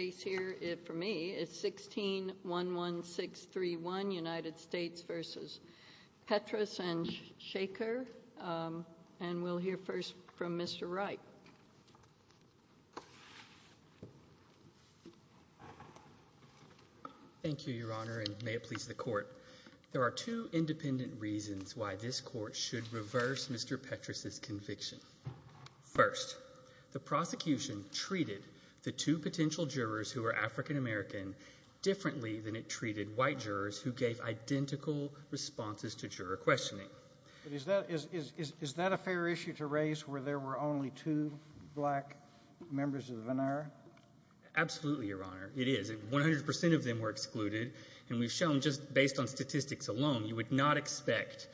1611631 United States v. Petras v. Shachar There are two independent reasons why this Court should reverse Mr. Petras' conviction. First, the prosecution treated the two potential jurors who were African American differently than it treated white jurors who gave identical responses to juror questioning. Is that a fair issue to raise where there were only two black members of the venire? Absolutely, Your Honor, it is. 100% of them were excluded, and we've shown just based on statistics alone you would not expect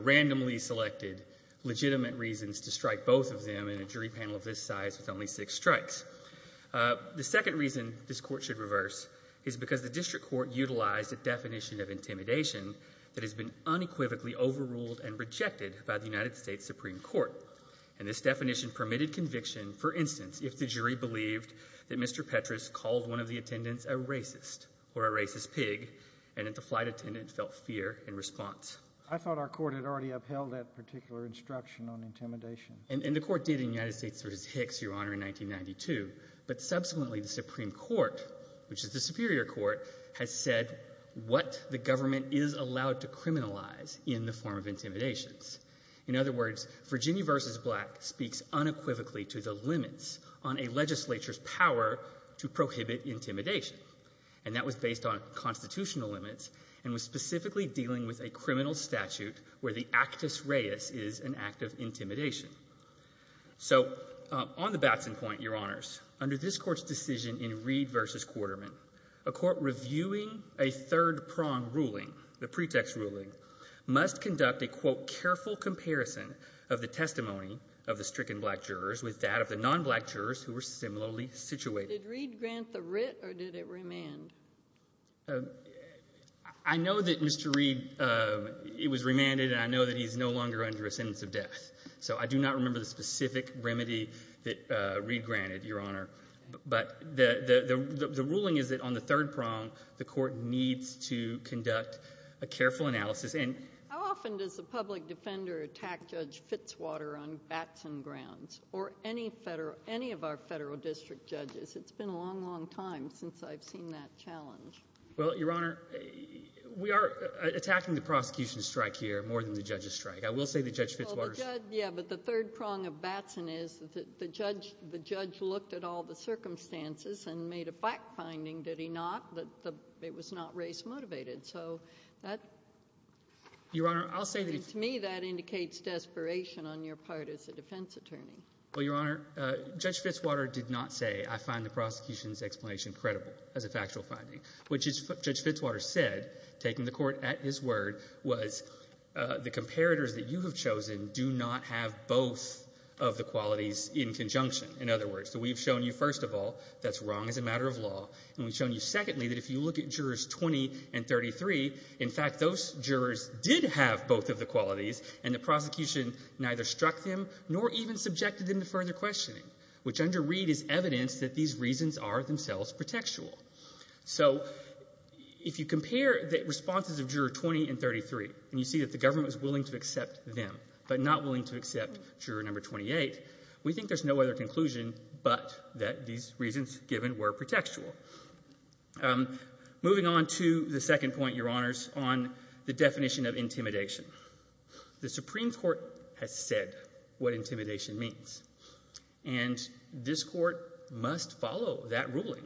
randomly selected legitimate reasons to strike both of them in a jury panel of this size with only six strikes. The second reason this Court should reverse is because the district court utilized a definition of intimidation that has been unequivocally overruled and rejected by the United States Supreme Court. And this definition permitted conviction, for instance, if the jury believed that Mr. Petras called one of the attendants a racist or a racist pig and that the flight attendant felt fear in response. I thought our Court had already upheld that particular instruction on intimidation. And the Court did in the United States v. Hicks, Your Honor, in 1992. But subsequently the Supreme Court, which is the superior court, has said what the government is allowed to criminalize in the form of intimidations. In other words, Virginia v. Black speaks unequivocally to the limits on a legislature's power to prohibit intimidation. And that was based on constitutional limits and was specifically dealing with a criminal statute where the actus reus is an act of intimidation. So on the Batson point, Your Honors, under this Court's decision in Reed v. Quarterman, a court reviewing a third-prong ruling, the pretext ruling, must conduct a, quote, careful comparison of the testimony of the stricken black jurors with that of the non-black jurors who were similarly situated. Did Reed grant the writ or did it remand? I know that Mr. Reed, it was remanded, and I know that he's no longer under a sentence of death. So I do not remember the specific remedy that Reed granted, Your Honor. But the ruling is that on the third prong, the Court needs to conduct a careful analysis. How often does the public defender attack Judge Fitzwater on Batson grounds or any of our federal district judges? It's been a long, long time since I've seen that challenge. Well, Your Honor, we are attacking the prosecution's strike here more than the judge's strike. I will say that Judge Fitzwater's— Yeah, but the third prong of Batson is that the judge looked at all the circumstances and made a fact-finding, did he not, that it was not race-motivated. So that— Your Honor, I'll say that— Well, Your Honor, Judge Fitzwater did not say, I find the prosecution's explanation credible as a factual finding, which, as Judge Fitzwater said, taking the Court at his word, was the comparators that you have chosen do not have both of the qualities in conjunction, in other words. So we've shown you, first of all, that's wrong as a matter of law, and we've shown you, secondly, that if you look at jurors 20 and 33, in fact, those jurors did have both of the qualities, and the prosecution neither struck them nor even subjected them to further questioning, which under Reed is evidence that these reasons are themselves pretextual. So if you compare the responses of juror 20 and 33, and you see that the government was willing to accept them but not willing to accept juror number 28, we think there's no other conclusion but that these reasons given were pretextual. Moving on to the second point, Your Honors, on the definition of intimidation. The Supreme Court has said what intimidation means, and this Court must follow that ruling.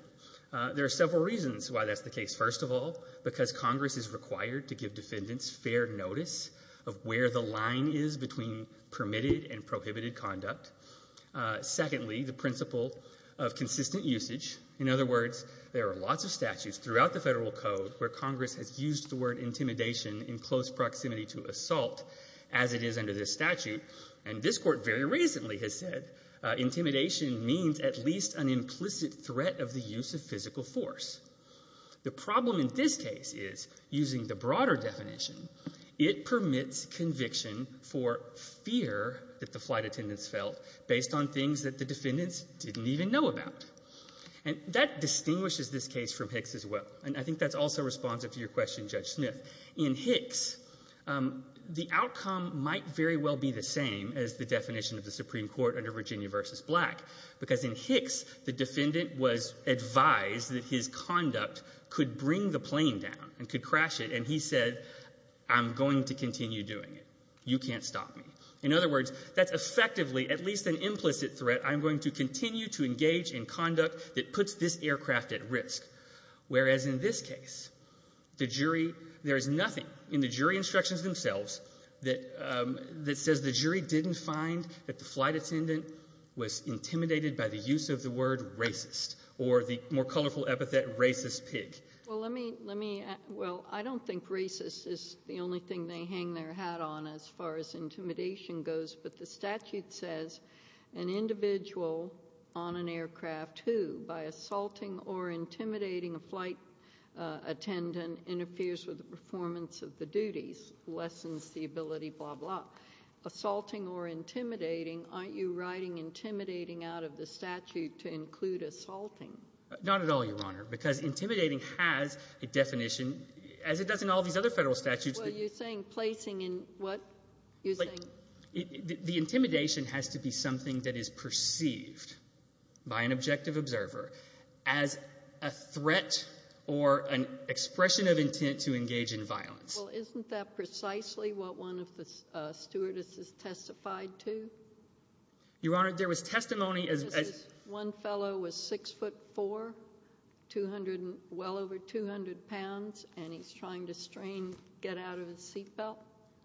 There are several reasons why that's the case. First of all, because Congress is required to give defendants fair notice of where the line is between permitted and prohibited conduct. Secondly, the principle of consistent usage. In other words, there are lots of statutes throughout the Federal Code where Congress has used the word intimidation in close proximity to assault, as it is under this statute, and this Court very recently has said intimidation means at least an implicit threat of the use of physical force. The problem in this case is, using the broader definition, it permits conviction for fear that the flight attendants felt based on things that the defendants didn't even know about. And that distinguishes this case from Hicks as well, and I think that's also responsive to your question, Judge Smith. In Hicks, the outcome might very well be the same as the definition of the Supreme Court under Virginia v. Black, because in Hicks, the defendant was advised that his conduct could bring the plane down and could crash it, and he said, I'm going to continue doing it. You can't stop me. In other words, that's effectively at least an implicit threat. I'm going to continue to engage in conduct that puts this aircraft at risk. Whereas in this case, the jury, there is nothing in the jury instructions themselves that says the jury didn't find that the flight attendant was intimidated by the use of the word racist or the more colorful epithet racist pig. Well, let me – well, I don't think racist is the only thing they hang their hat on as far as intimidation goes. But the statute says an individual on an aircraft who, by assaulting or intimidating a flight attendant, interferes with the performance of the duties, lessens the ability, blah, blah. Assaulting or intimidating, aren't you writing intimidating out of the statute to include assaulting? Not at all, Your Honor, because intimidating has a definition, as it does in all these other federal statutes. Well, you're saying placing in what? You're saying – The intimidation has to be something that is perceived by an objective observer as a threat or an expression of intent to engage in violence. Well, isn't that precisely what one of the stewardesses testified to? Your Honor, there was testimony as – One fellow was 6'4", 200 – well over 200 pounds, and he's trying to strain – get out of his seatbelt.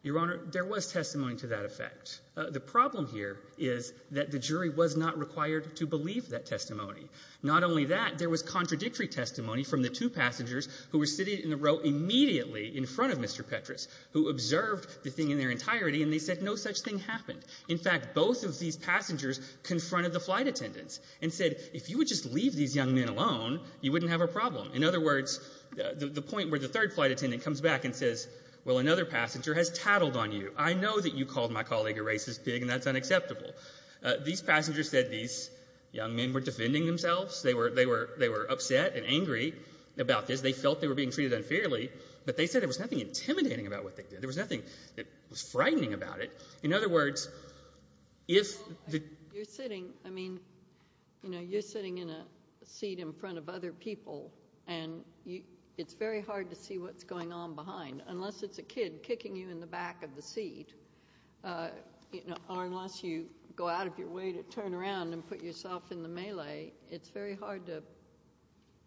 Your Honor, there was testimony to that effect. The problem here is that the jury was not required to believe that testimony. Not only that, there was contradictory testimony from the two passengers who were sitting in the row immediately in front of Mr. Petras, who observed the thing in their entirety, and they said no such thing happened. In fact, both of these passengers confronted the flight attendants, and said if you would just leave these young men alone, you wouldn't have a problem. In other words, the point where the third flight attendant comes back and says, well, another passenger has tattled on you. I know that you called my colleague a racist pig, and that's unacceptable. These passengers said these young men were defending themselves. They were upset and angry about this. They felt they were being treated unfairly, but they said there was nothing intimidating about what they did. There was nothing that was frightening about it. In other words, if the— You're sitting in a seat in front of other people, and it's very hard to see what's going on behind. Unless it's a kid kicking you in the back of the seat, or unless you go out of your way to turn around and put yourself in the melee, it's very hard to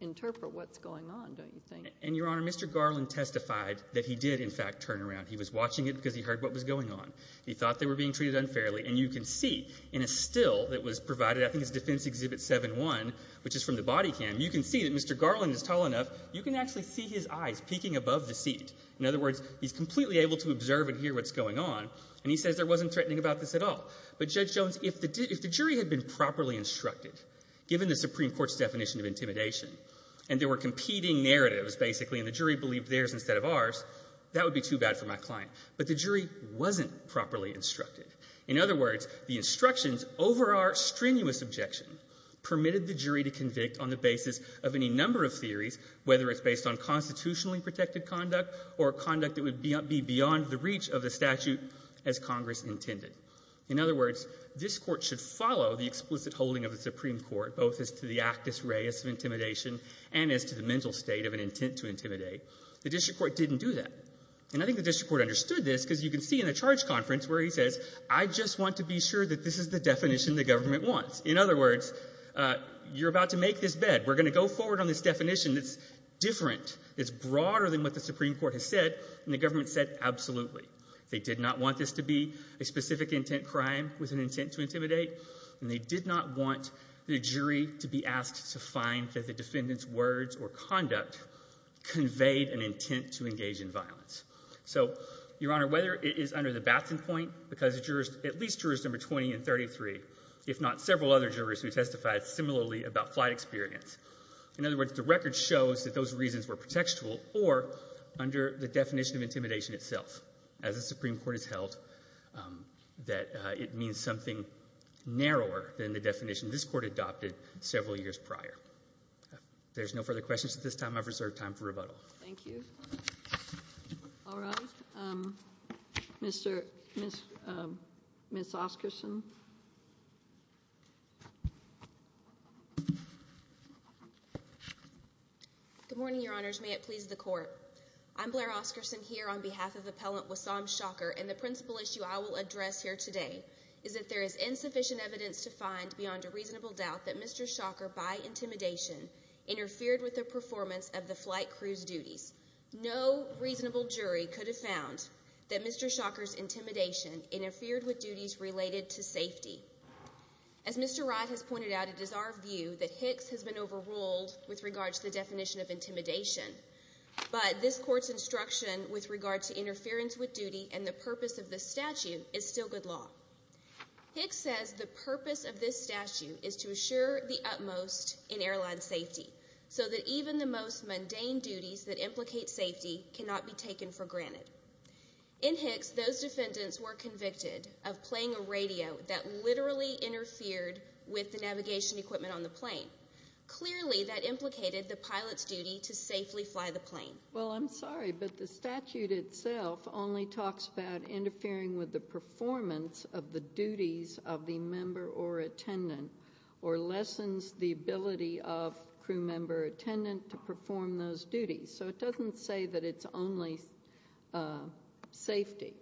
interpret what's going on, don't you think? Your Honor, Mr. Garland testified that he did, in fact, turn around. He was watching it because he heard what was going on. He thought they were being treated unfairly, and you can see in a still that was provided, I think it's Defense Exhibit 7-1, which is from the body cam, you can see that Mr. Garland is tall enough, you can actually see his eyes peeking above the seat. In other words, he's completely able to observe and hear what's going on, and he says there wasn't threatening about this at all. But, Judge Jones, if the jury had been properly instructed, given the Supreme Court's definition of intimidation, and there were competing narratives, basically, and the jury believed theirs instead of ours, that would be too bad for my client. But the jury wasn't properly instructed. In other words, the instructions over our strenuous objection permitted the jury to convict on the basis of any number of theories, whether it's based on constitutionally protected conduct or conduct that would be beyond the reach of the statute as Congress intended. In other words, this Court should follow the explicit holding of the Supreme Court, both as to the actus reus of intimidation and as to the mental state of an intent to intimidate. The district court didn't do that. And I think the district court understood this, because you can see in the charge conference where he says, I just want to be sure that this is the definition the government wants. In other words, you're about to make this bed. We're going to go forward on this definition that's different, that's broader than what the Supreme Court has said, and the government said absolutely. They did not want this to be a specific intent crime with an intent to intimidate, and they did not want the jury to be asked to find that the defendant's words or conduct conveyed an intent to engage in violence. So, Your Honor, whether it is under the Batson point, because at least jurors number 20 and 33, if not several other jurors who testified similarly about flight experience. In other words, the record shows that those reasons were protectable or under the definition of intimidation itself, as the Supreme Court has held that it means something narrower than the definition this court adopted several years prior. If there's no further questions at this time, I've reserved time for rebuttal. Thank you. All right. Ms. Oscarson. Good morning, Your Honors. May it please the Court. I'm Blair Oscarson here on behalf of Appellant Wassam Shocker, and the principal issue I will address here today is that there is insufficient evidence to find beyond a reasonable doubt that Mr. Shocker, by intimidation, interfered with the performance of the flight crew's duties. No reasonable jury could have found that Mr. Shocker's intimidation interfered with duties related to safety. As Mr. Wright has pointed out, it is our view that Hicks has been overruled with regard to the definition of intimidation, but this court's instruction with regard to interference with duty and the purpose of this statute is still good law. Hicks says the purpose of this statute is to assure the utmost in airline safety so that even the most mundane duties that implicate safety cannot be taken for granted. In Hicks, those defendants were convicted of playing a radio that literally interfered with the navigation equipment on the plane. Clearly, that implicated the pilot's duty to safely fly the plane. Well, I'm sorry, but the statute itself only talks about interfering with the performance of the duties of the member or attendant or lessens the ability of crew member or attendant to perform those duties. So it doesn't say that it's only safety.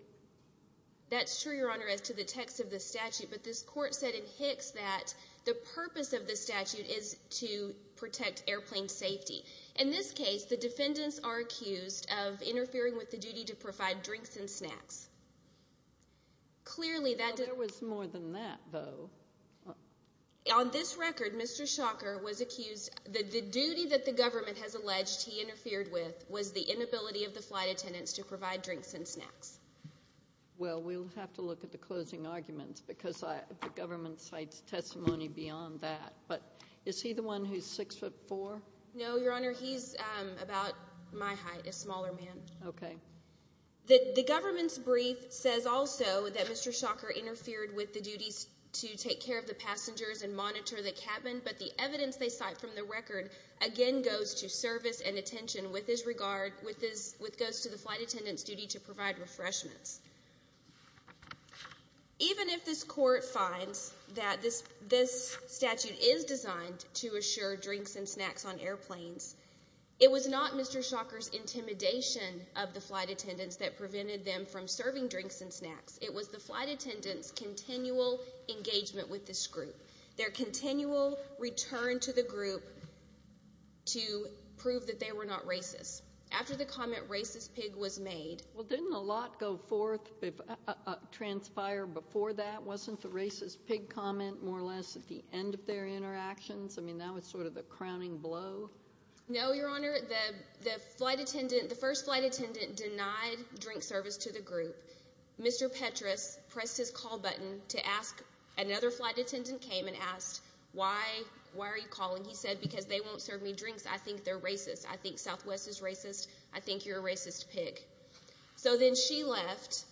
That's true, Your Honor, as to the text of the statute, but this court said in Hicks that the purpose of the statute is to protect airplane safety. In this case, the defendants are accused of interfering with the duty to provide drinks and snacks. Clearly, that didn't... There was more than that, though. On this record, Mr. Shocker was accused that the duty that the government has alleged he interfered with was the inability of the flight attendants to provide drinks and snacks. Well, we'll have to look at the closing arguments because the government cites testimony beyond that. But is he the one who's 6'4"? No, Your Honor, he's about my height, a smaller man. Okay. The government's brief says also that Mr. Shocker interfered with the duties to take care of the passengers and monitor the cabin, but the evidence they cite from the record again goes to service and attention with regards to the flight attendant's duty to provide refreshments. Even if this court finds that this statute is designed to assure drinks and snacks on airplanes, it was not Mr. Shocker's intimidation of the flight attendants that prevented them from serving drinks and snacks. It was the flight attendants' continual engagement with this group, their continual return to the group to prove that they were not racist. After the comment, racist pig was made. Well, didn't a lot go forth, transpire before that? Wasn't the racist pig comment more or less at the end of their interactions? I mean, that was sort of the crowning blow. No, Your Honor. The first flight attendant denied drink service to the group. Mr. Petras pressed his call button to ask. Another flight attendant came and asked, why are you calling? He said, because they won't serve me drinks. I think they're racist. I think Southwest is racist. I think you're a racist pig. So then she left,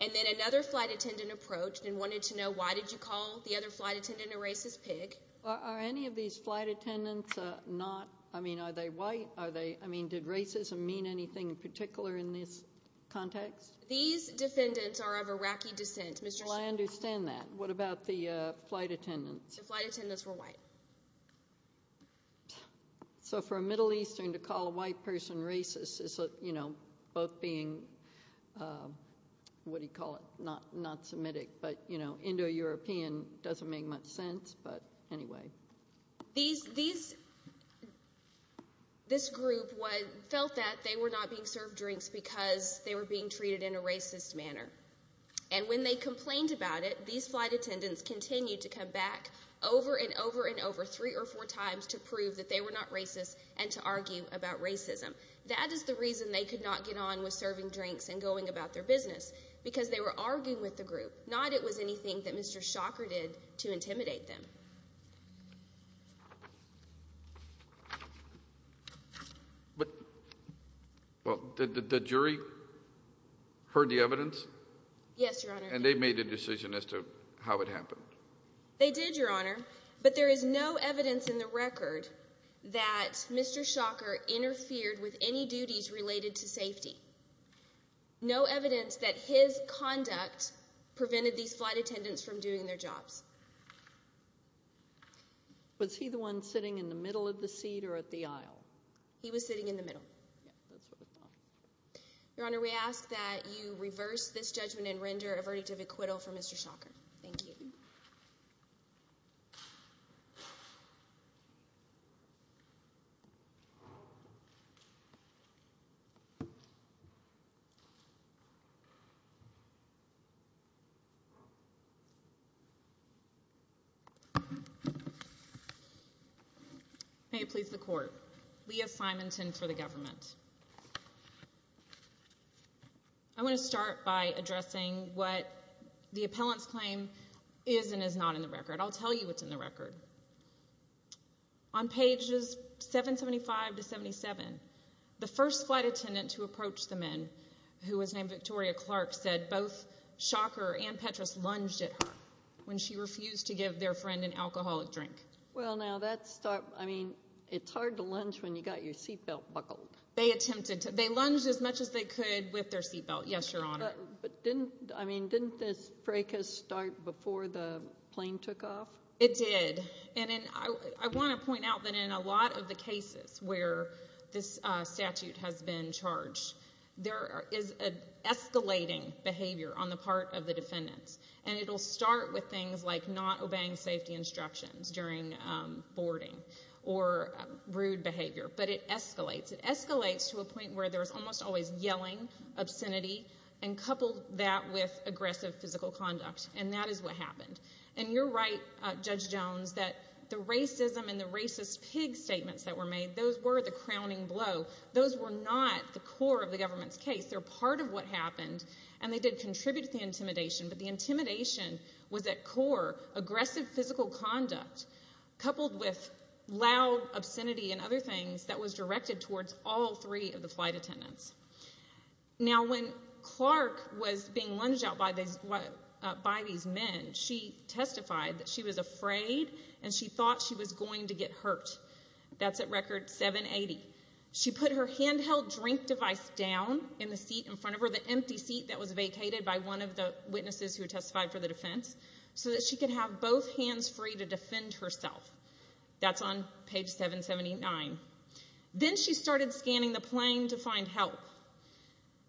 and then another flight attendant approached and wanted to know why did you call the other flight attendant a racist pig. Are any of these flight attendants not, I mean, are they white? I mean, did racism mean anything in particular in this context? These defendants are of Iraqi descent, Mr. Shocker. Well, I understand that. What about the flight attendants? The flight attendants were white. So for a Middle Eastern to call a white person racist is, you know, both being, what do you call it, not Semitic, but, you know, Indo-European doesn't make much sense, but anyway. This group felt that they were not being served drinks because they were being treated in a racist manner. And when they complained about it, these flight attendants continued to come back over and over and over three or four times to prove that they were not racist and to argue about racism. That is the reason they could not get on with serving drinks and going about their business, because they were arguing with the group, not it was anything that Mr. Shocker did to intimidate them. Yes, Your Honor. And they made a decision as to how it happened. They did, Your Honor. But there is no evidence in the record that Mr. Shocker interfered with any duties related to safety. No evidence that his conduct prevented these flight attendants from doing their jobs. Was he the one sitting in the middle of the seat or at the aisle? He was sitting in the middle. Your Honor, we ask that you reverse this judgment and render a verdict of acquittal for Mr. Shocker. Thank you. May it please the Court. Leah Simonton for the government. I want to start by addressing what the appellant's claim is and is not in the record. I'll tell you what's in the record. On pages 775 to 77, the first flight attendant to approach the men, who was named Victoria Clark, said both Shocker and Petras lunged at her when she refused to give their friend an alcoholic drink. It's hard to lunge when you've got your seatbelt buckled. They lunged as much as they could with their seatbelt, yes, Your Honor. Didn't this break a start before the plane took off? It did. I want to point out that in a lot of the cases where this statute has been charged, there is an escalating behavior on the part of the defendants. It'll start with things like not obeying safety instructions during boarding or rude behavior, but it escalates. It escalates to a point where there's almost always yelling, obscenity, and coupled that with aggressive physical conduct, and that is what happened. You're right, Judge Jones, that the racism and the racist pig statements that were made, those were the crowning blow. Those were not the core of the government's case. They're part of what happened, and they did contribute to the intimidation, but the intimidation was at core aggressive physical conduct coupled with loud obscenity and other things that was directed towards all three of the flight attendants. Now, when Clark was being lunged out by these men, she testified that she was afraid and she thought she was going to get hurt. That's at record 780. She put her handheld drink device down in the seat in front of her, the empty seat that was vacated by one of the witnesses who testified for the defense, so that she could have both hands free to defend herself. That's on page 779. Then she started scanning the plane to find help.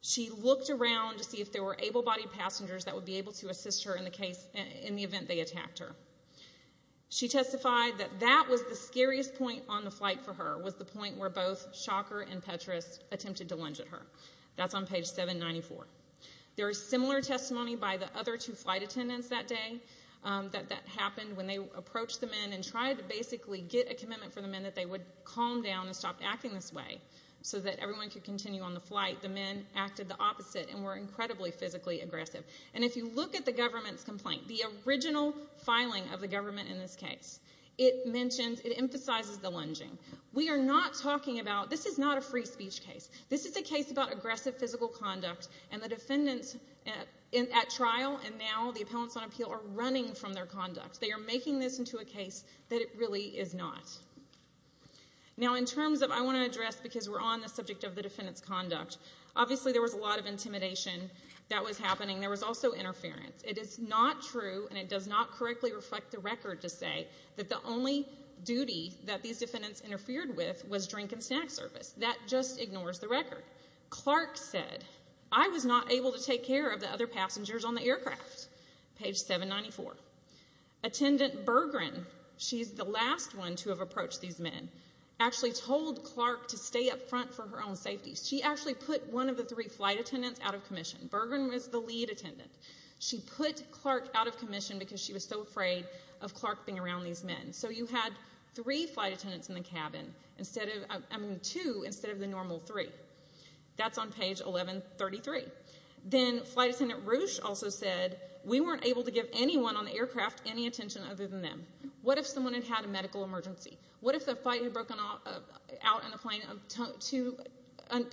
She looked around to see if there were able-bodied passengers that would be able to assist her in the event they attacked her. She testified that that was the scariest point on the flight for her, was the point where both Shocker and Petras attempted to lunge at her. That's on page 794. There is similar testimony by the other two flight attendants that day that that happened when they approached the men and tried to basically get a commitment from the men that they would calm down and stop acting this way so that everyone could continue on the flight. The men acted the opposite and were incredibly physically aggressive. And if you look at the government's complaint, the original filing of the government in this case, it mentions, it emphasizes the lunging. We are not talking about, this is not a free speech case. This is a case about aggressive physical conduct, and the defendants at trial and now the appellants on appeal are running from their conduct. They are making this into a case that it really is not. Now, in terms of, I want to address, because we're on the subject of the defendants' conduct, obviously there was a lot of intimidation that was happening. There was also interference. It is not true, and it does not correctly reflect the record to say, that the only duty that these defendants interfered with was drink and snack service. That just ignores the record. Clark said, I was not able to take care of the other passengers on the aircraft. Page 794. Attendant Bergren, she's the last one to have approached these men, actually told Clark to stay up front for her own safety. She actually put one of the three flight attendants out of commission. Bergren was the lead attendant. She put Clark out of commission because she was so afraid of Clark being around these men. So you had three flight attendants in the cabin instead of, I mean, two instead of the normal three. That's on page 1133. Then Flight Attendant Roush also said, we weren't able to give anyone on the aircraft any attention other than them. What if someone had had a medical emergency? What if the flight had broken out on a plane of two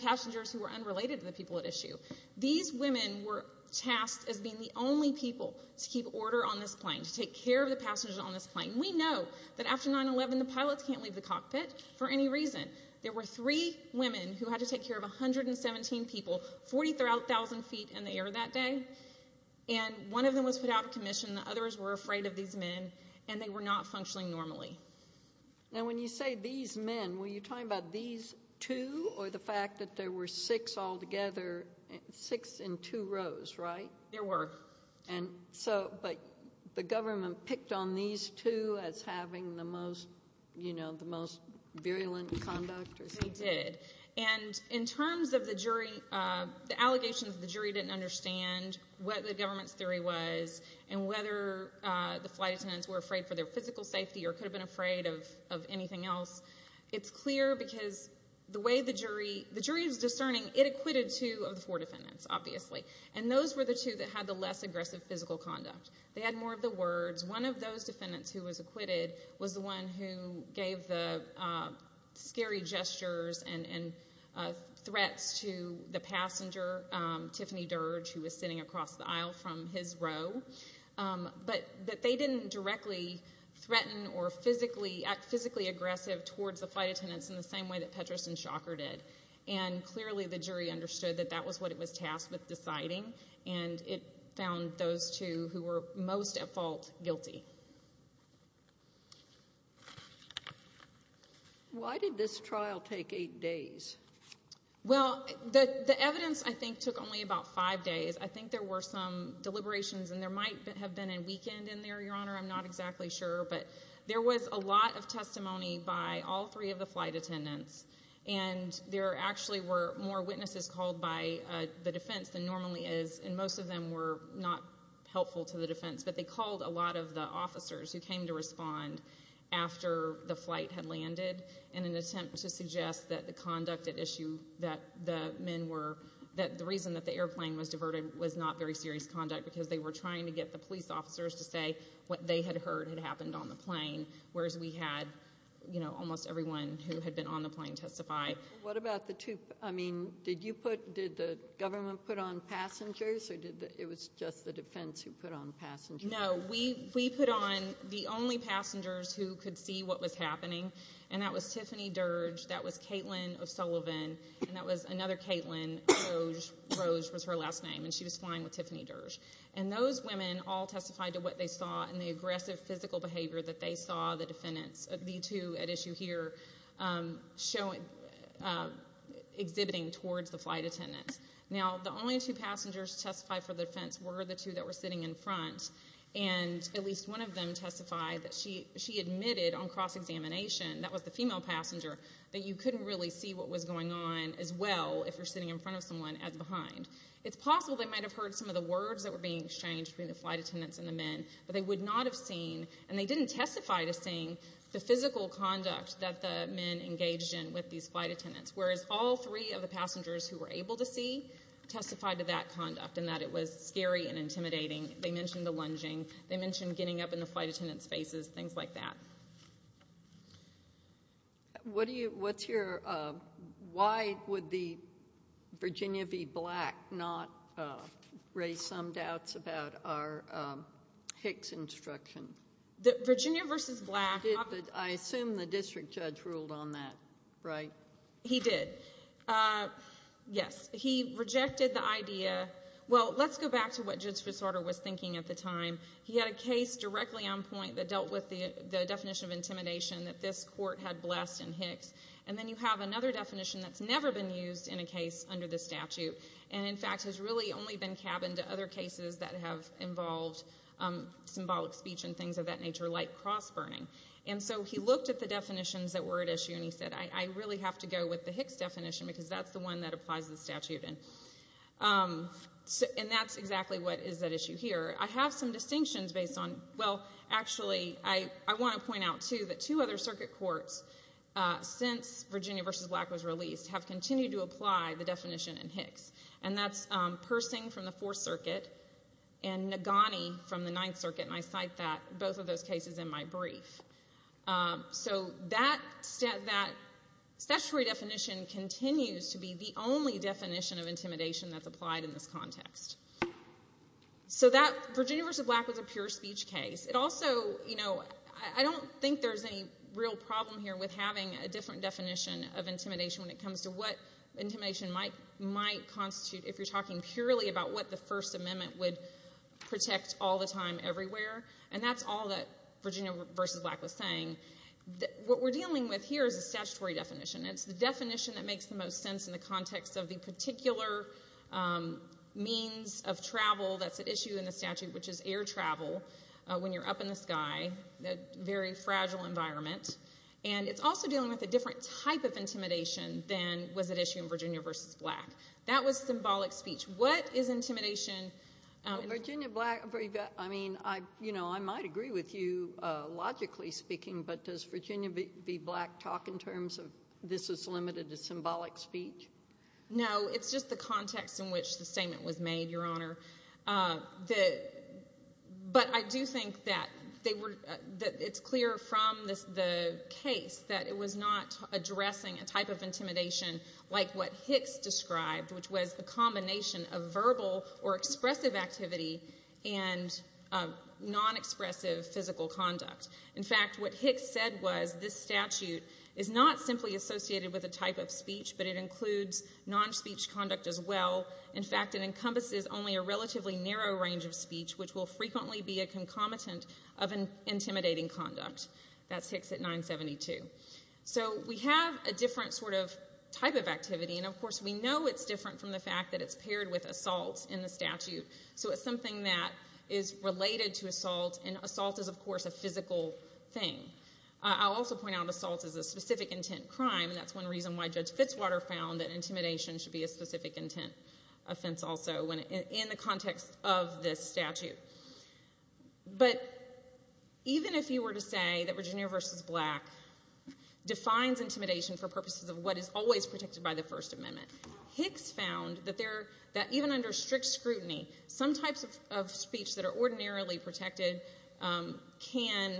passengers who were unrelated to the people at issue? These women were tasked as being the only people to keep order on this plane, to take care of the passengers on this plane. We know that after 9-11 the pilots can't leave the cockpit for any reason. There were three women who had to take care of 117 people, 40,000 feet in the air that day. One of them was put out of commission. The others were afraid of these men, and they were not functioning normally. When you say these men, were you talking about these two or the fact that there were six altogether, six in two rows, right? There were. But the government picked on these two as having the most virulent conduct? They did. In terms of the allegations that the jury didn't understand what the government's theory was and whether the flight attendants were afraid for their physical safety or could have been afraid of anything else, it's clear because the way the jury is discerning, it acquitted two of the four defendants, obviously. And those were the two that had the less aggressive physical conduct. They had more of the words. One of those defendants who was acquitted was the one who gave the scary gestures and threats to the passenger, Tiffany Dirge, who was sitting across the aisle from his row, but that they didn't directly threaten or physically act physically aggressive towards the flight attendants in the same way that Petras and Shocker did. And clearly the jury understood that that was what it was tasked with deciding, and it found those two who were most at fault guilty. Why did this trial take eight days? Well, the evidence, I think, took only about five days. I think there were some deliberations, and there might have been a weekend in there, Your Honor. I'm not exactly sure. But there was a lot of testimony by all three of the flight attendants, and there actually were more witnesses called by the defense than normally is, and most of them were not helpful to the defense, but they called a lot of the officers who came to respond after the flight had landed in an attempt to suggest that the reason that the airplane was diverted was not very serious conduct because they were trying to get the police officers to say what they had heard had happened on the plane, whereas we had almost everyone who had been on the plane testify. What about the two? I mean, did the government put on passengers, or it was just the defense who put on passengers? No, we put on the only passengers who could see what was happening, and that was Tiffany Dirge, that was Caitlin of Sullivan, and that was another Caitlin, Rose was her last name, and she was flying with Tiffany Dirge. And those women all testified to what they saw and the aggressive physical behavior that they saw the defendants, the two at issue here, exhibiting towards the flight attendants. Now, the only two passengers to testify for the defense were the two that were sitting in front, and at least one of them testified that she admitted on cross-examination, that was the female passenger, that you couldn't really see what was going on as well if you're sitting in front of someone as behind. It's possible they might have heard some of the words that were being exchanged between the flight attendants and the men, but they would not have seen, and they didn't testify to seeing, the physical conduct that the men engaged in with these flight attendants, whereas all three of the passengers who were able to see testified to that conduct and that it was scary and intimidating. They mentioned the lunging. They mentioned getting up in the flight attendant's faces, things like that. What do you, what's your, why would the Virginia v. Black not raise some doubts about our Hicks instruction? Virginia versus Black. I assume the district judge ruled on that, right? He did. Yes. He rejected the idea. Well, let's go back to what Judge FitzRodder was thinking at the time. He had a case directly on point that dealt with the definition of intimidation that this court had blessed in Hicks, and then you have another definition that's never been used in a case under this statute and, in fact, has really only been cabined to other cases that have involved symbolic speech and things of that nature, like cross-burning. And so he looked at the definitions that were at issue, and he said, I really have to go with the Hicks definition because that's the one that applies to the statute, and that's exactly what is at issue here. I have some distinctions based on, well, actually, I want to point out, too, that two other circuit courts since Virginia versus Black was released have continued to apply the definition in Hicks, and that's Persing from the Fourth Circuit and Nagani from the Ninth Circuit, and I cite both of those cases in my brief. So that statutory definition continues to be the only definition of intimidation that's applied in this context. So Virginia versus Black was a pure speech case. It also, you know, I don't think there's any real problem here with having a different definition of intimidation when it comes to what intimidation might constitute if you're talking purely about what the First Amendment would protect all the time everywhere, and that's all that Virginia versus Black was saying. What we're dealing with here is a statutory definition. It's the definition that makes the most sense in the context of the particular means of travel that's at issue in the statute, which is air travel when you're up in the sky, a very fragile environment, and it's also dealing with a different type of intimidation than was at issue in Virginia versus Black. That was symbolic speech. What is intimidation? Well, Virginia Black, I mean, you know, I might agree with you logically speaking, but does Virginia be Black talk in terms of this is limited to symbolic speech? No, it's just the context in which the statement was made, Your Honor. But I do think that it's clear from the case that it was not addressing a type of intimidation like what Hicks described, which was a combination of verbal or expressive activity and non-expressive physical conduct. In fact, what Hicks said was this statute is not simply associated with a type of speech, but it includes non-speech conduct as well. In fact, it encompasses only a relatively narrow range of speech, which will frequently be a concomitant of intimidating conduct. That's Hicks at 972. So we have a different sort of type of activity, and of course we know it's different from the fact that it's paired with assault in the statute. So it's something that is related to assault, and assault is, of course, a physical thing. I'll also point out assault is a specific intent crime, and that's one reason why Judge Fitzwater found that intimidation should be a specific intent offense also in the context of this statute. But even if you were to say that Virginia v. Black defines intimidation for purposes of what is always protected by the First Amendment, Hicks found that even under strict scrutiny, some types of speech that are ordinarily protected can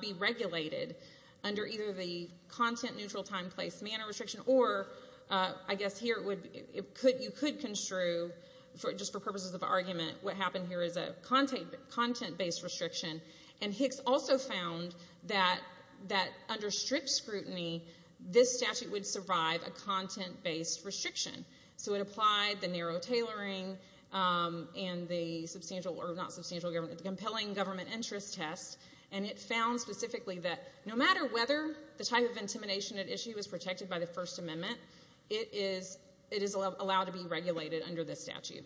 be regulated under either the content-neutral time, place, manner restriction, or I guess here you could construe, just for purposes of argument, what happened here is a content-based restriction, and Hicks also found that under strict scrutiny, this statute would survive a content-based restriction. So it applied the narrow tailoring and the compelling government interest test, and it found specifically that no matter whether the type of intimidation at issue is protected by the First Amendment, it is allowed to be regulated under this statute.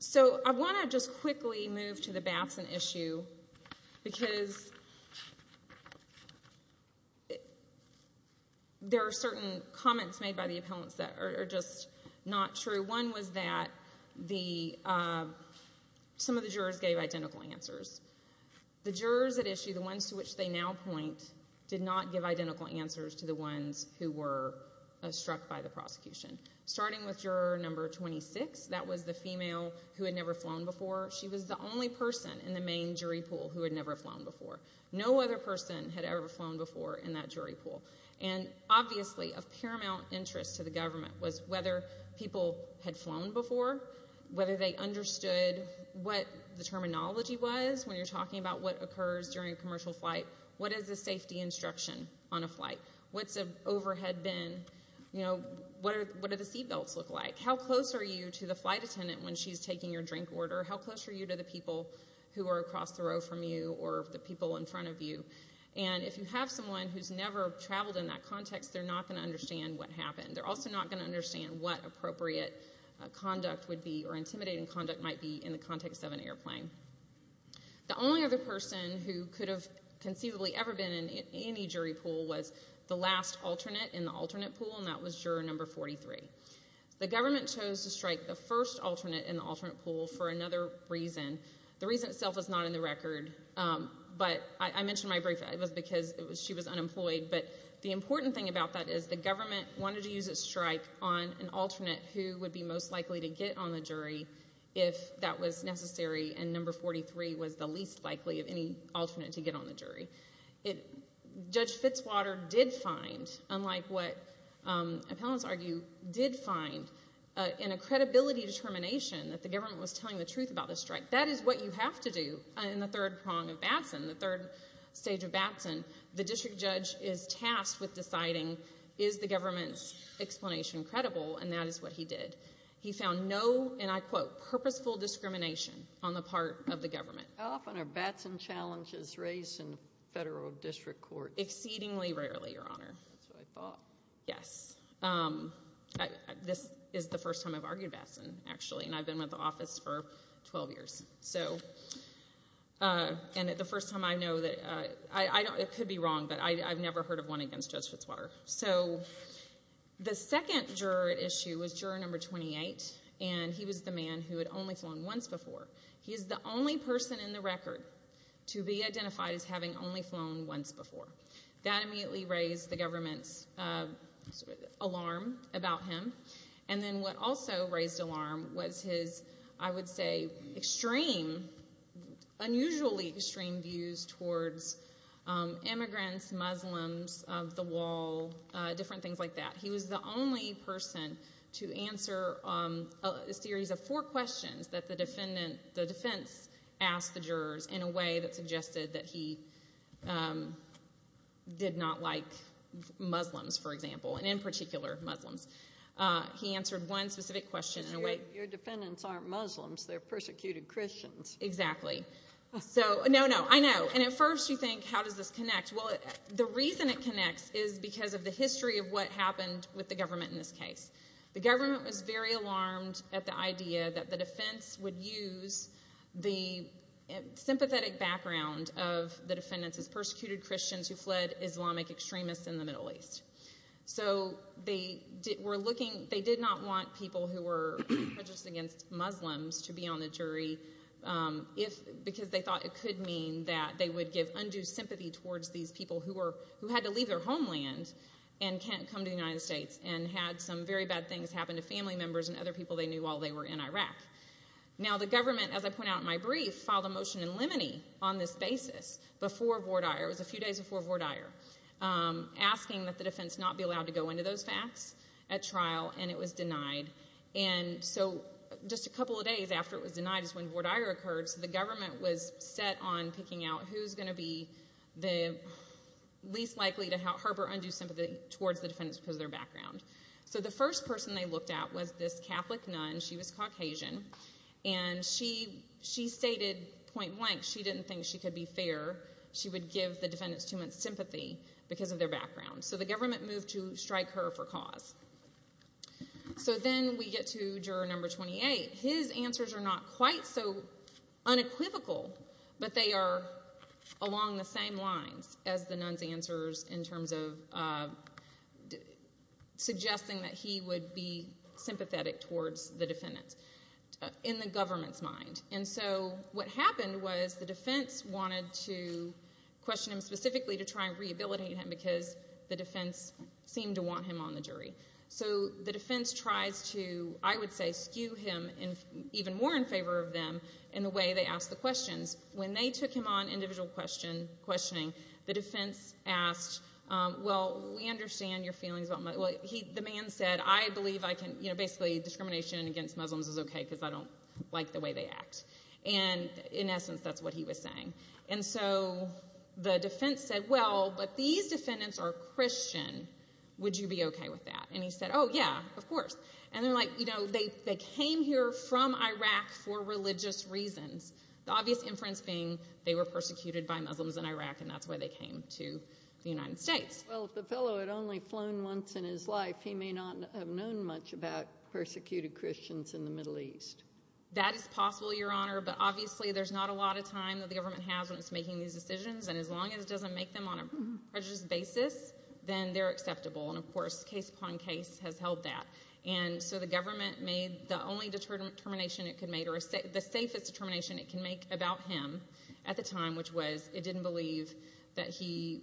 So I want to just quickly move to the Batson issue, because there are certain comments made by the appellants that are just not true. One was that some of the jurors gave identical answers. The jurors at issue, the ones to which they now point, did not give identical answers to the ones who were struck by the prosecution. Starting with juror number 26, that was the female who had never flown before. She was the only person in the main jury pool who had never flown before. No other person had ever flown before in that jury pool. And obviously of paramount interest to the government was whether people had flown before, whether they understood what the terminology was when you're talking about what occurs during a commercial flight. What is the safety instruction on a flight? What's an overhead bin? What do the seatbelts look like? How close are you to the flight attendant when she's taking your drink order? How close are you to the people who are across the row from you or the people in front of you? And if you have someone who's never traveled in that context, they're not going to understand what happened. They're also not going to understand what appropriate conduct would be or intimidating conduct might be in the context of an airplane. The only other person who could have conceivably ever been in any jury pool was the last alternate in the alternate pool, and that was juror number 43. The government chose to strike the first alternate in the alternate pool for another reason. The reason itself is not in the record, but I mentioned my brief. It was because she was unemployed, but the important thing about that is the government wanted to use its strike on an alternate who would be most likely to get on the jury if that was necessary and number 43 was the least likely of any alternate to get on the jury. Judge Fitzwater did find, unlike what appellants argue, did find in a credibility determination that the government was telling the truth about the strike. That is what you have to do in the third prong of Batson, the third stage of Batson. The district judge is tasked with deciding, is the government's explanation credible, and that is what he did. He found no, and I quote, purposeful discrimination on the part of the government. How often are Batson challenges raised in federal district court? Exceedingly rarely, Your Honor. That's what I thought. Yes. This is the first time I've argued Batson, actually, and I've been with the office for 12 years, and the first time I know that it could be wrong, but I've never heard of one against Judge Fitzwater. So the second juror at issue was juror number 28, and he was the man who had only flown once before. He is the only person in the record to be identified as having only flown once before. That immediately raised the government's alarm about him, and then what also raised alarm was his, I would say, extreme, unusually extreme views towards immigrants, Muslims of the wall, different things like that. He was the only person to answer a series of four questions that the defense asked the jurors in a way that suggested that he did not like Muslims, for example, and in particular Muslims. He answered one specific question in a way. Your defendants aren't Muslims. They're persecuted Christians. Exactly. So, no, no, I know. And at first you think, how does this connect? Well, the reason it connects is because of the history of what happened with the government in this case. The government was very alarmed at the idea that the defense would use the sympathetic background of the defendants as persecuted Christians who fled Islamic extremists in the Middle East. So they did not want people who were prejudiced against Muslims to be on the jury because they thought it could mean that they would give undue sympathy towards these people who had to leave their homeland and come to the United States and had some very bad things happen to family members and other people they knew while they were in Iraq. Now, the government, as I point out in my brief, filed a motion in limine on this basis before Vordaer, it was a few days before Vordaer, asking that the defense not be allowed to go into those facts at trial, and it was denied. And so just a couple of days after it was denied, is when Vordaer occurred, so the government was set on picking out who's going to be the least likely to harbor undue sympathy towards the defendants because of their background. So the first person they looked at was this Catholic nun. She was Caucasian, and she stated point blank she didn't think she could be fair. She would give the defendants too much sympathy because of their background. So the government moved to strike her for cause. So then we get to juror number 28. His answers are not quite so unequivocal, but they are along the same lines as the nun's answers in terms of suggesting that he would be sympathetic towards the defendants in the government's mind. And so what happened was the defense wanted to question him specifically to try and rehabilitate him because the defense seemed to want him on the jury. So the defense tries to, I would say, skew him even more in favor of them in the way they ask the questions. When they took him on individual questioning, the defense asked, well, we understand your feelings. The man said, I believe I can, basically discrimination against Muslims is okay because I don't like the way they act. And in essence, that's what he was saying. And so the defense said, well, but these defendants are Christian. Would you be okay with that? And he said, oh, yeah, of course. And they're like, you know, they came here from Iraq for religious reasons. The obvious inference being they were persecuted by Muslims in Iraq and that's why they came to the United States. Well, if the fellow had only flown once in his life, he may not have known much about persecuted Christians in the Middle East. That is possible, Your Honor, but obviously there's not a lot of time that the government has when it's making these decisions. And as long as it doesn't make them on a prejudiced basis, then they're acceptable. And, of course, case upon case has held that. And so the government made the only determination it could make or the safest determination it can make about him at the time, which was it didn't believe that he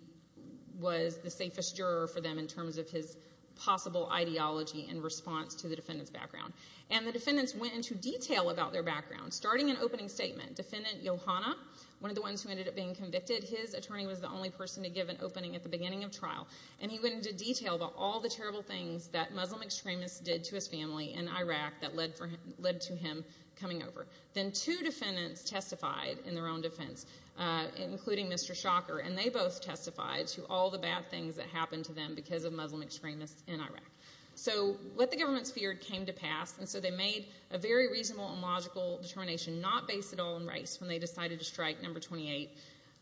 was the safest juror for them in terms of his possible ideology in response to the defendant's background. And the defendants went into detail about their background, starting an opening statement. Defendant Yohanna, one of the ones who ended up being convicted, his attorney was the only person to give an opening at the beginning of trial, and he went into detail about all the terrible things that Muslim extremists did to his family in Iraq that led to him coming over. Then two defendants testified in their own defense, including Mr. Shocker, and they both testified to all the bad things that happened to them because of Muslim extremists in Iraq. So what the government feared came to pass, and so they made a very reasonable and logical determination, not based at all on race, when they decided to strike number 28.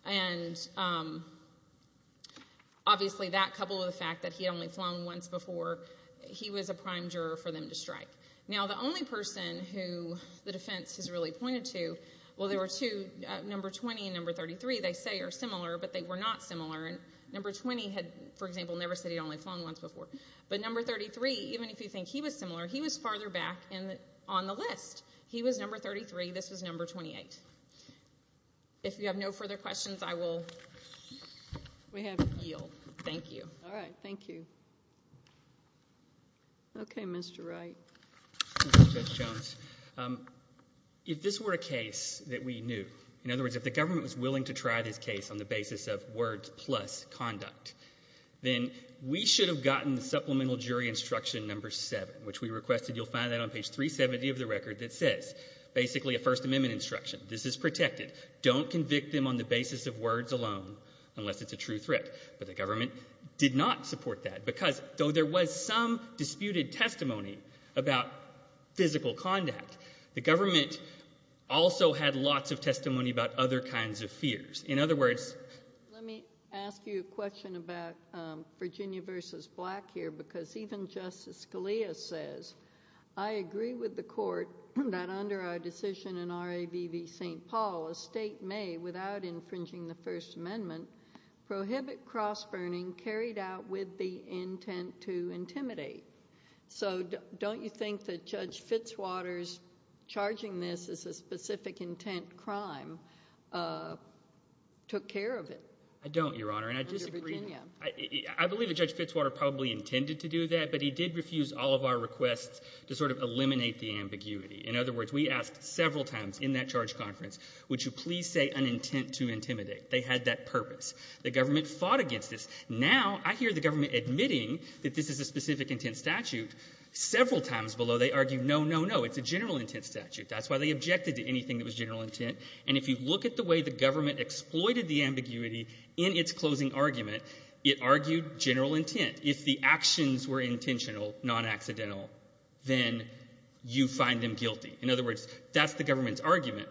And obviously that coupled with the fact that he had only flown once before, he was a prime juror for them to strike. Now, the only person who the defense has really pointed to, well, there were two, number 20 and number 33, they say are similar, but they were not similar. Number 20 had, for example, never said he'd only flown once before. But number 33, even if you think he was similar, he was farther back on the list. He was number 33. This was number 28. If you have no further questions, I will yield. Thank you. All right. Thank you. Okay, Mr. Wright. Thank you, Judge Jones. If this were a case that we knew, in other words, if the government was willing to try this case on the basis of words plus conduct, then we should have gotten supplemental jury instruction number 7, which we requested. You'll find that on page 370 of the record that says, basically a First Amendment instruction. This is protected. Don't convict them on the basis of words alone unless it's a true threat. But the government did not support that because, though there was some disputed testimony about physical conduct, the government also had lots of testimony about other kinds of fears. In other words, let me ask you a question about Virginia v. Black here because even Justice Scalia says, I agree with the court that under our decision in R.A.V.V. St. Paul, a state may, without infringing the First Amendment, prohibit cross-burning carried out with the intent to intimidate. So don't you think that Judge Fitzwater's charging this as a specific intent crime took care of it under Virginia? I don't, Your Honor, and I disagree. I believe that Judge Fitzwater probably intended to do that, but he did refuse all of our requests to sort of eliminate the ambiguity. In other words, we asked several times in that charge conference, would you please say an intent to intimidate? They had that purpose. The government fought against this. Now I hear the government admitting that this is a specific intent statute. Several times below, they argue, no, no, no, it's a general intent statute. That's why they objected to anything that was general intent. And if you look at the way the government exploited the ambiguity in its closing argument, it argued general intent. If the actions were intentional, non-accidental, then you find them guilty. In other words, that's the government's argument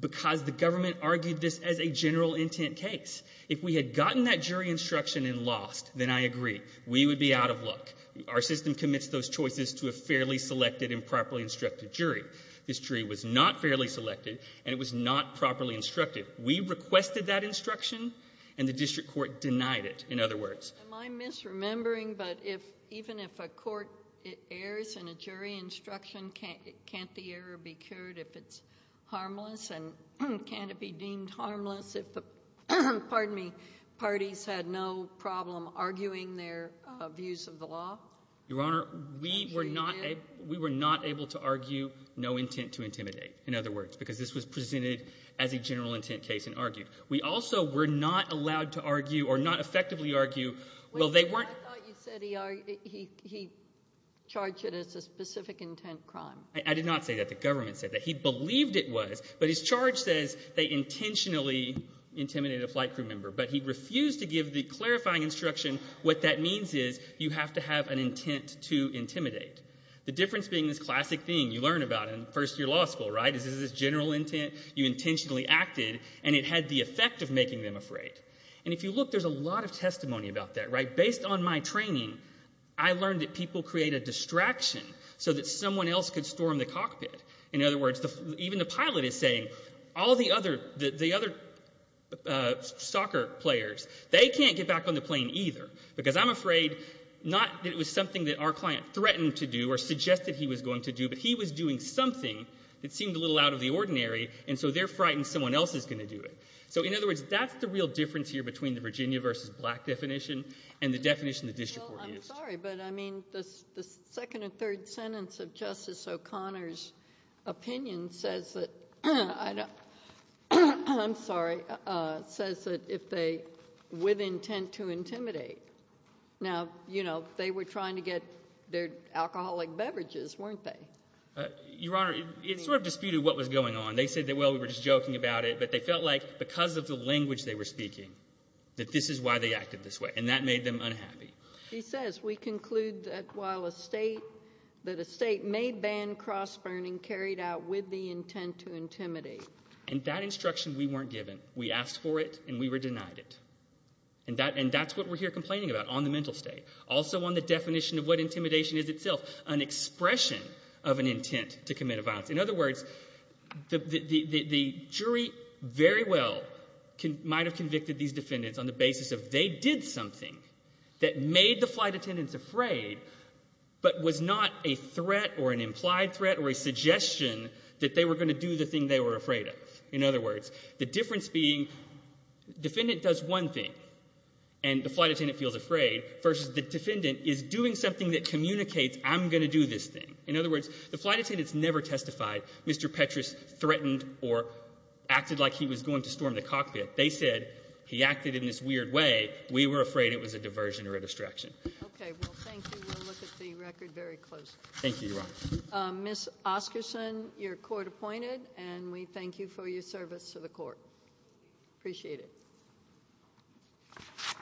because the government argued this as a general intent case. If we had gotten that jury instruction and lost, then I agree. We would be out of luck. Our system commits those choices to a fairly selected and properly instructed jury. This jury was not fairly selected, and it was not properly instructed. We requested that instruction, and the district court denied it, in other words. Am I misremembering, but even if a court errs in a jury instruction, can't the error be cured if it's harmless? And can't it be deemed harmless if the parties had no problem arguing their views of the law? Your Honor, we were not able to argue no intent to intimidate, in other words, because this was presented as a general intent case and argued. We also were not allowed to argue or not effectively argue. I thought you said he charged it as a specific intent crime. I did not say that. The government said that. He believed it was, but his charge says they intentionally intimidated a flight crew member, but he refused to give the clarifying instruction. What that means is you have to have an intent to intimidate. The difference being this classic thing you learn about in first-year law school, right? This is a general intent. You intentionally acted, and it had the effect of making them afraid. And if you look, there's a lot of testimony about that, right? Based on my training, I learned that people create a distraction so that someone else could storm the cockpit. In other words, even the pilot is saying all the other soccer players, they can't get back on the plane either, because I'm afraid not that it was something that our client threatened to do or suggested he was going to do, but he was doing something that seemed a little out of the ordinary, and so they're frightened someone else is going to do it. So in other words, that's the real difference here between the Virginia versus black definition and the definition the district court used. Well, I'm sorry, but I mean the second and third sentence of Justice O'Connor's opinion says that I'm sorry, says that if they, with intent to intimidate. Now, you know, they were trying to get their alcoholic beverages, weren't they? Your Honor, it sort of disputed what was going on. They said, well, we were just joking about it, but they felt like because of the language they were speaking, that this is why they acted this way, and that made them unhappy. He says we conclude that while a state, that a state may ban cross-burning carried out with the intent to intimidate. And that instruction we weren't given. We asked for it, and we were denied it. And that's what we're here complaining about on the mental state, also on the definition of what intimidation is itself, an expression of an intent to commit a violence. In other words, the jury very well might have convicted these defendants on the basis of they did something that made the flight attendants afraid, but was not a threat or an implied threat or a suggestion that they were going to do the thing they were afraid of. In other words, the difference being the defendant does one thing, and the flight attendant feels afraid, versus the defendant is doing something that communicates I'm going to do this thing. In other words, the flight attendants never testified Mr. Petras threatened or acted like he was going to storm the cockpit. They said he acted in this weird way. We were afraid it was a diversion or a distraction. Okay. Well, thank you. We'll look at the record very closely. Thank you, Your Honor. Ms. Oscarson, you're court appointed, and we thank you for your service to the court. Appreciate it.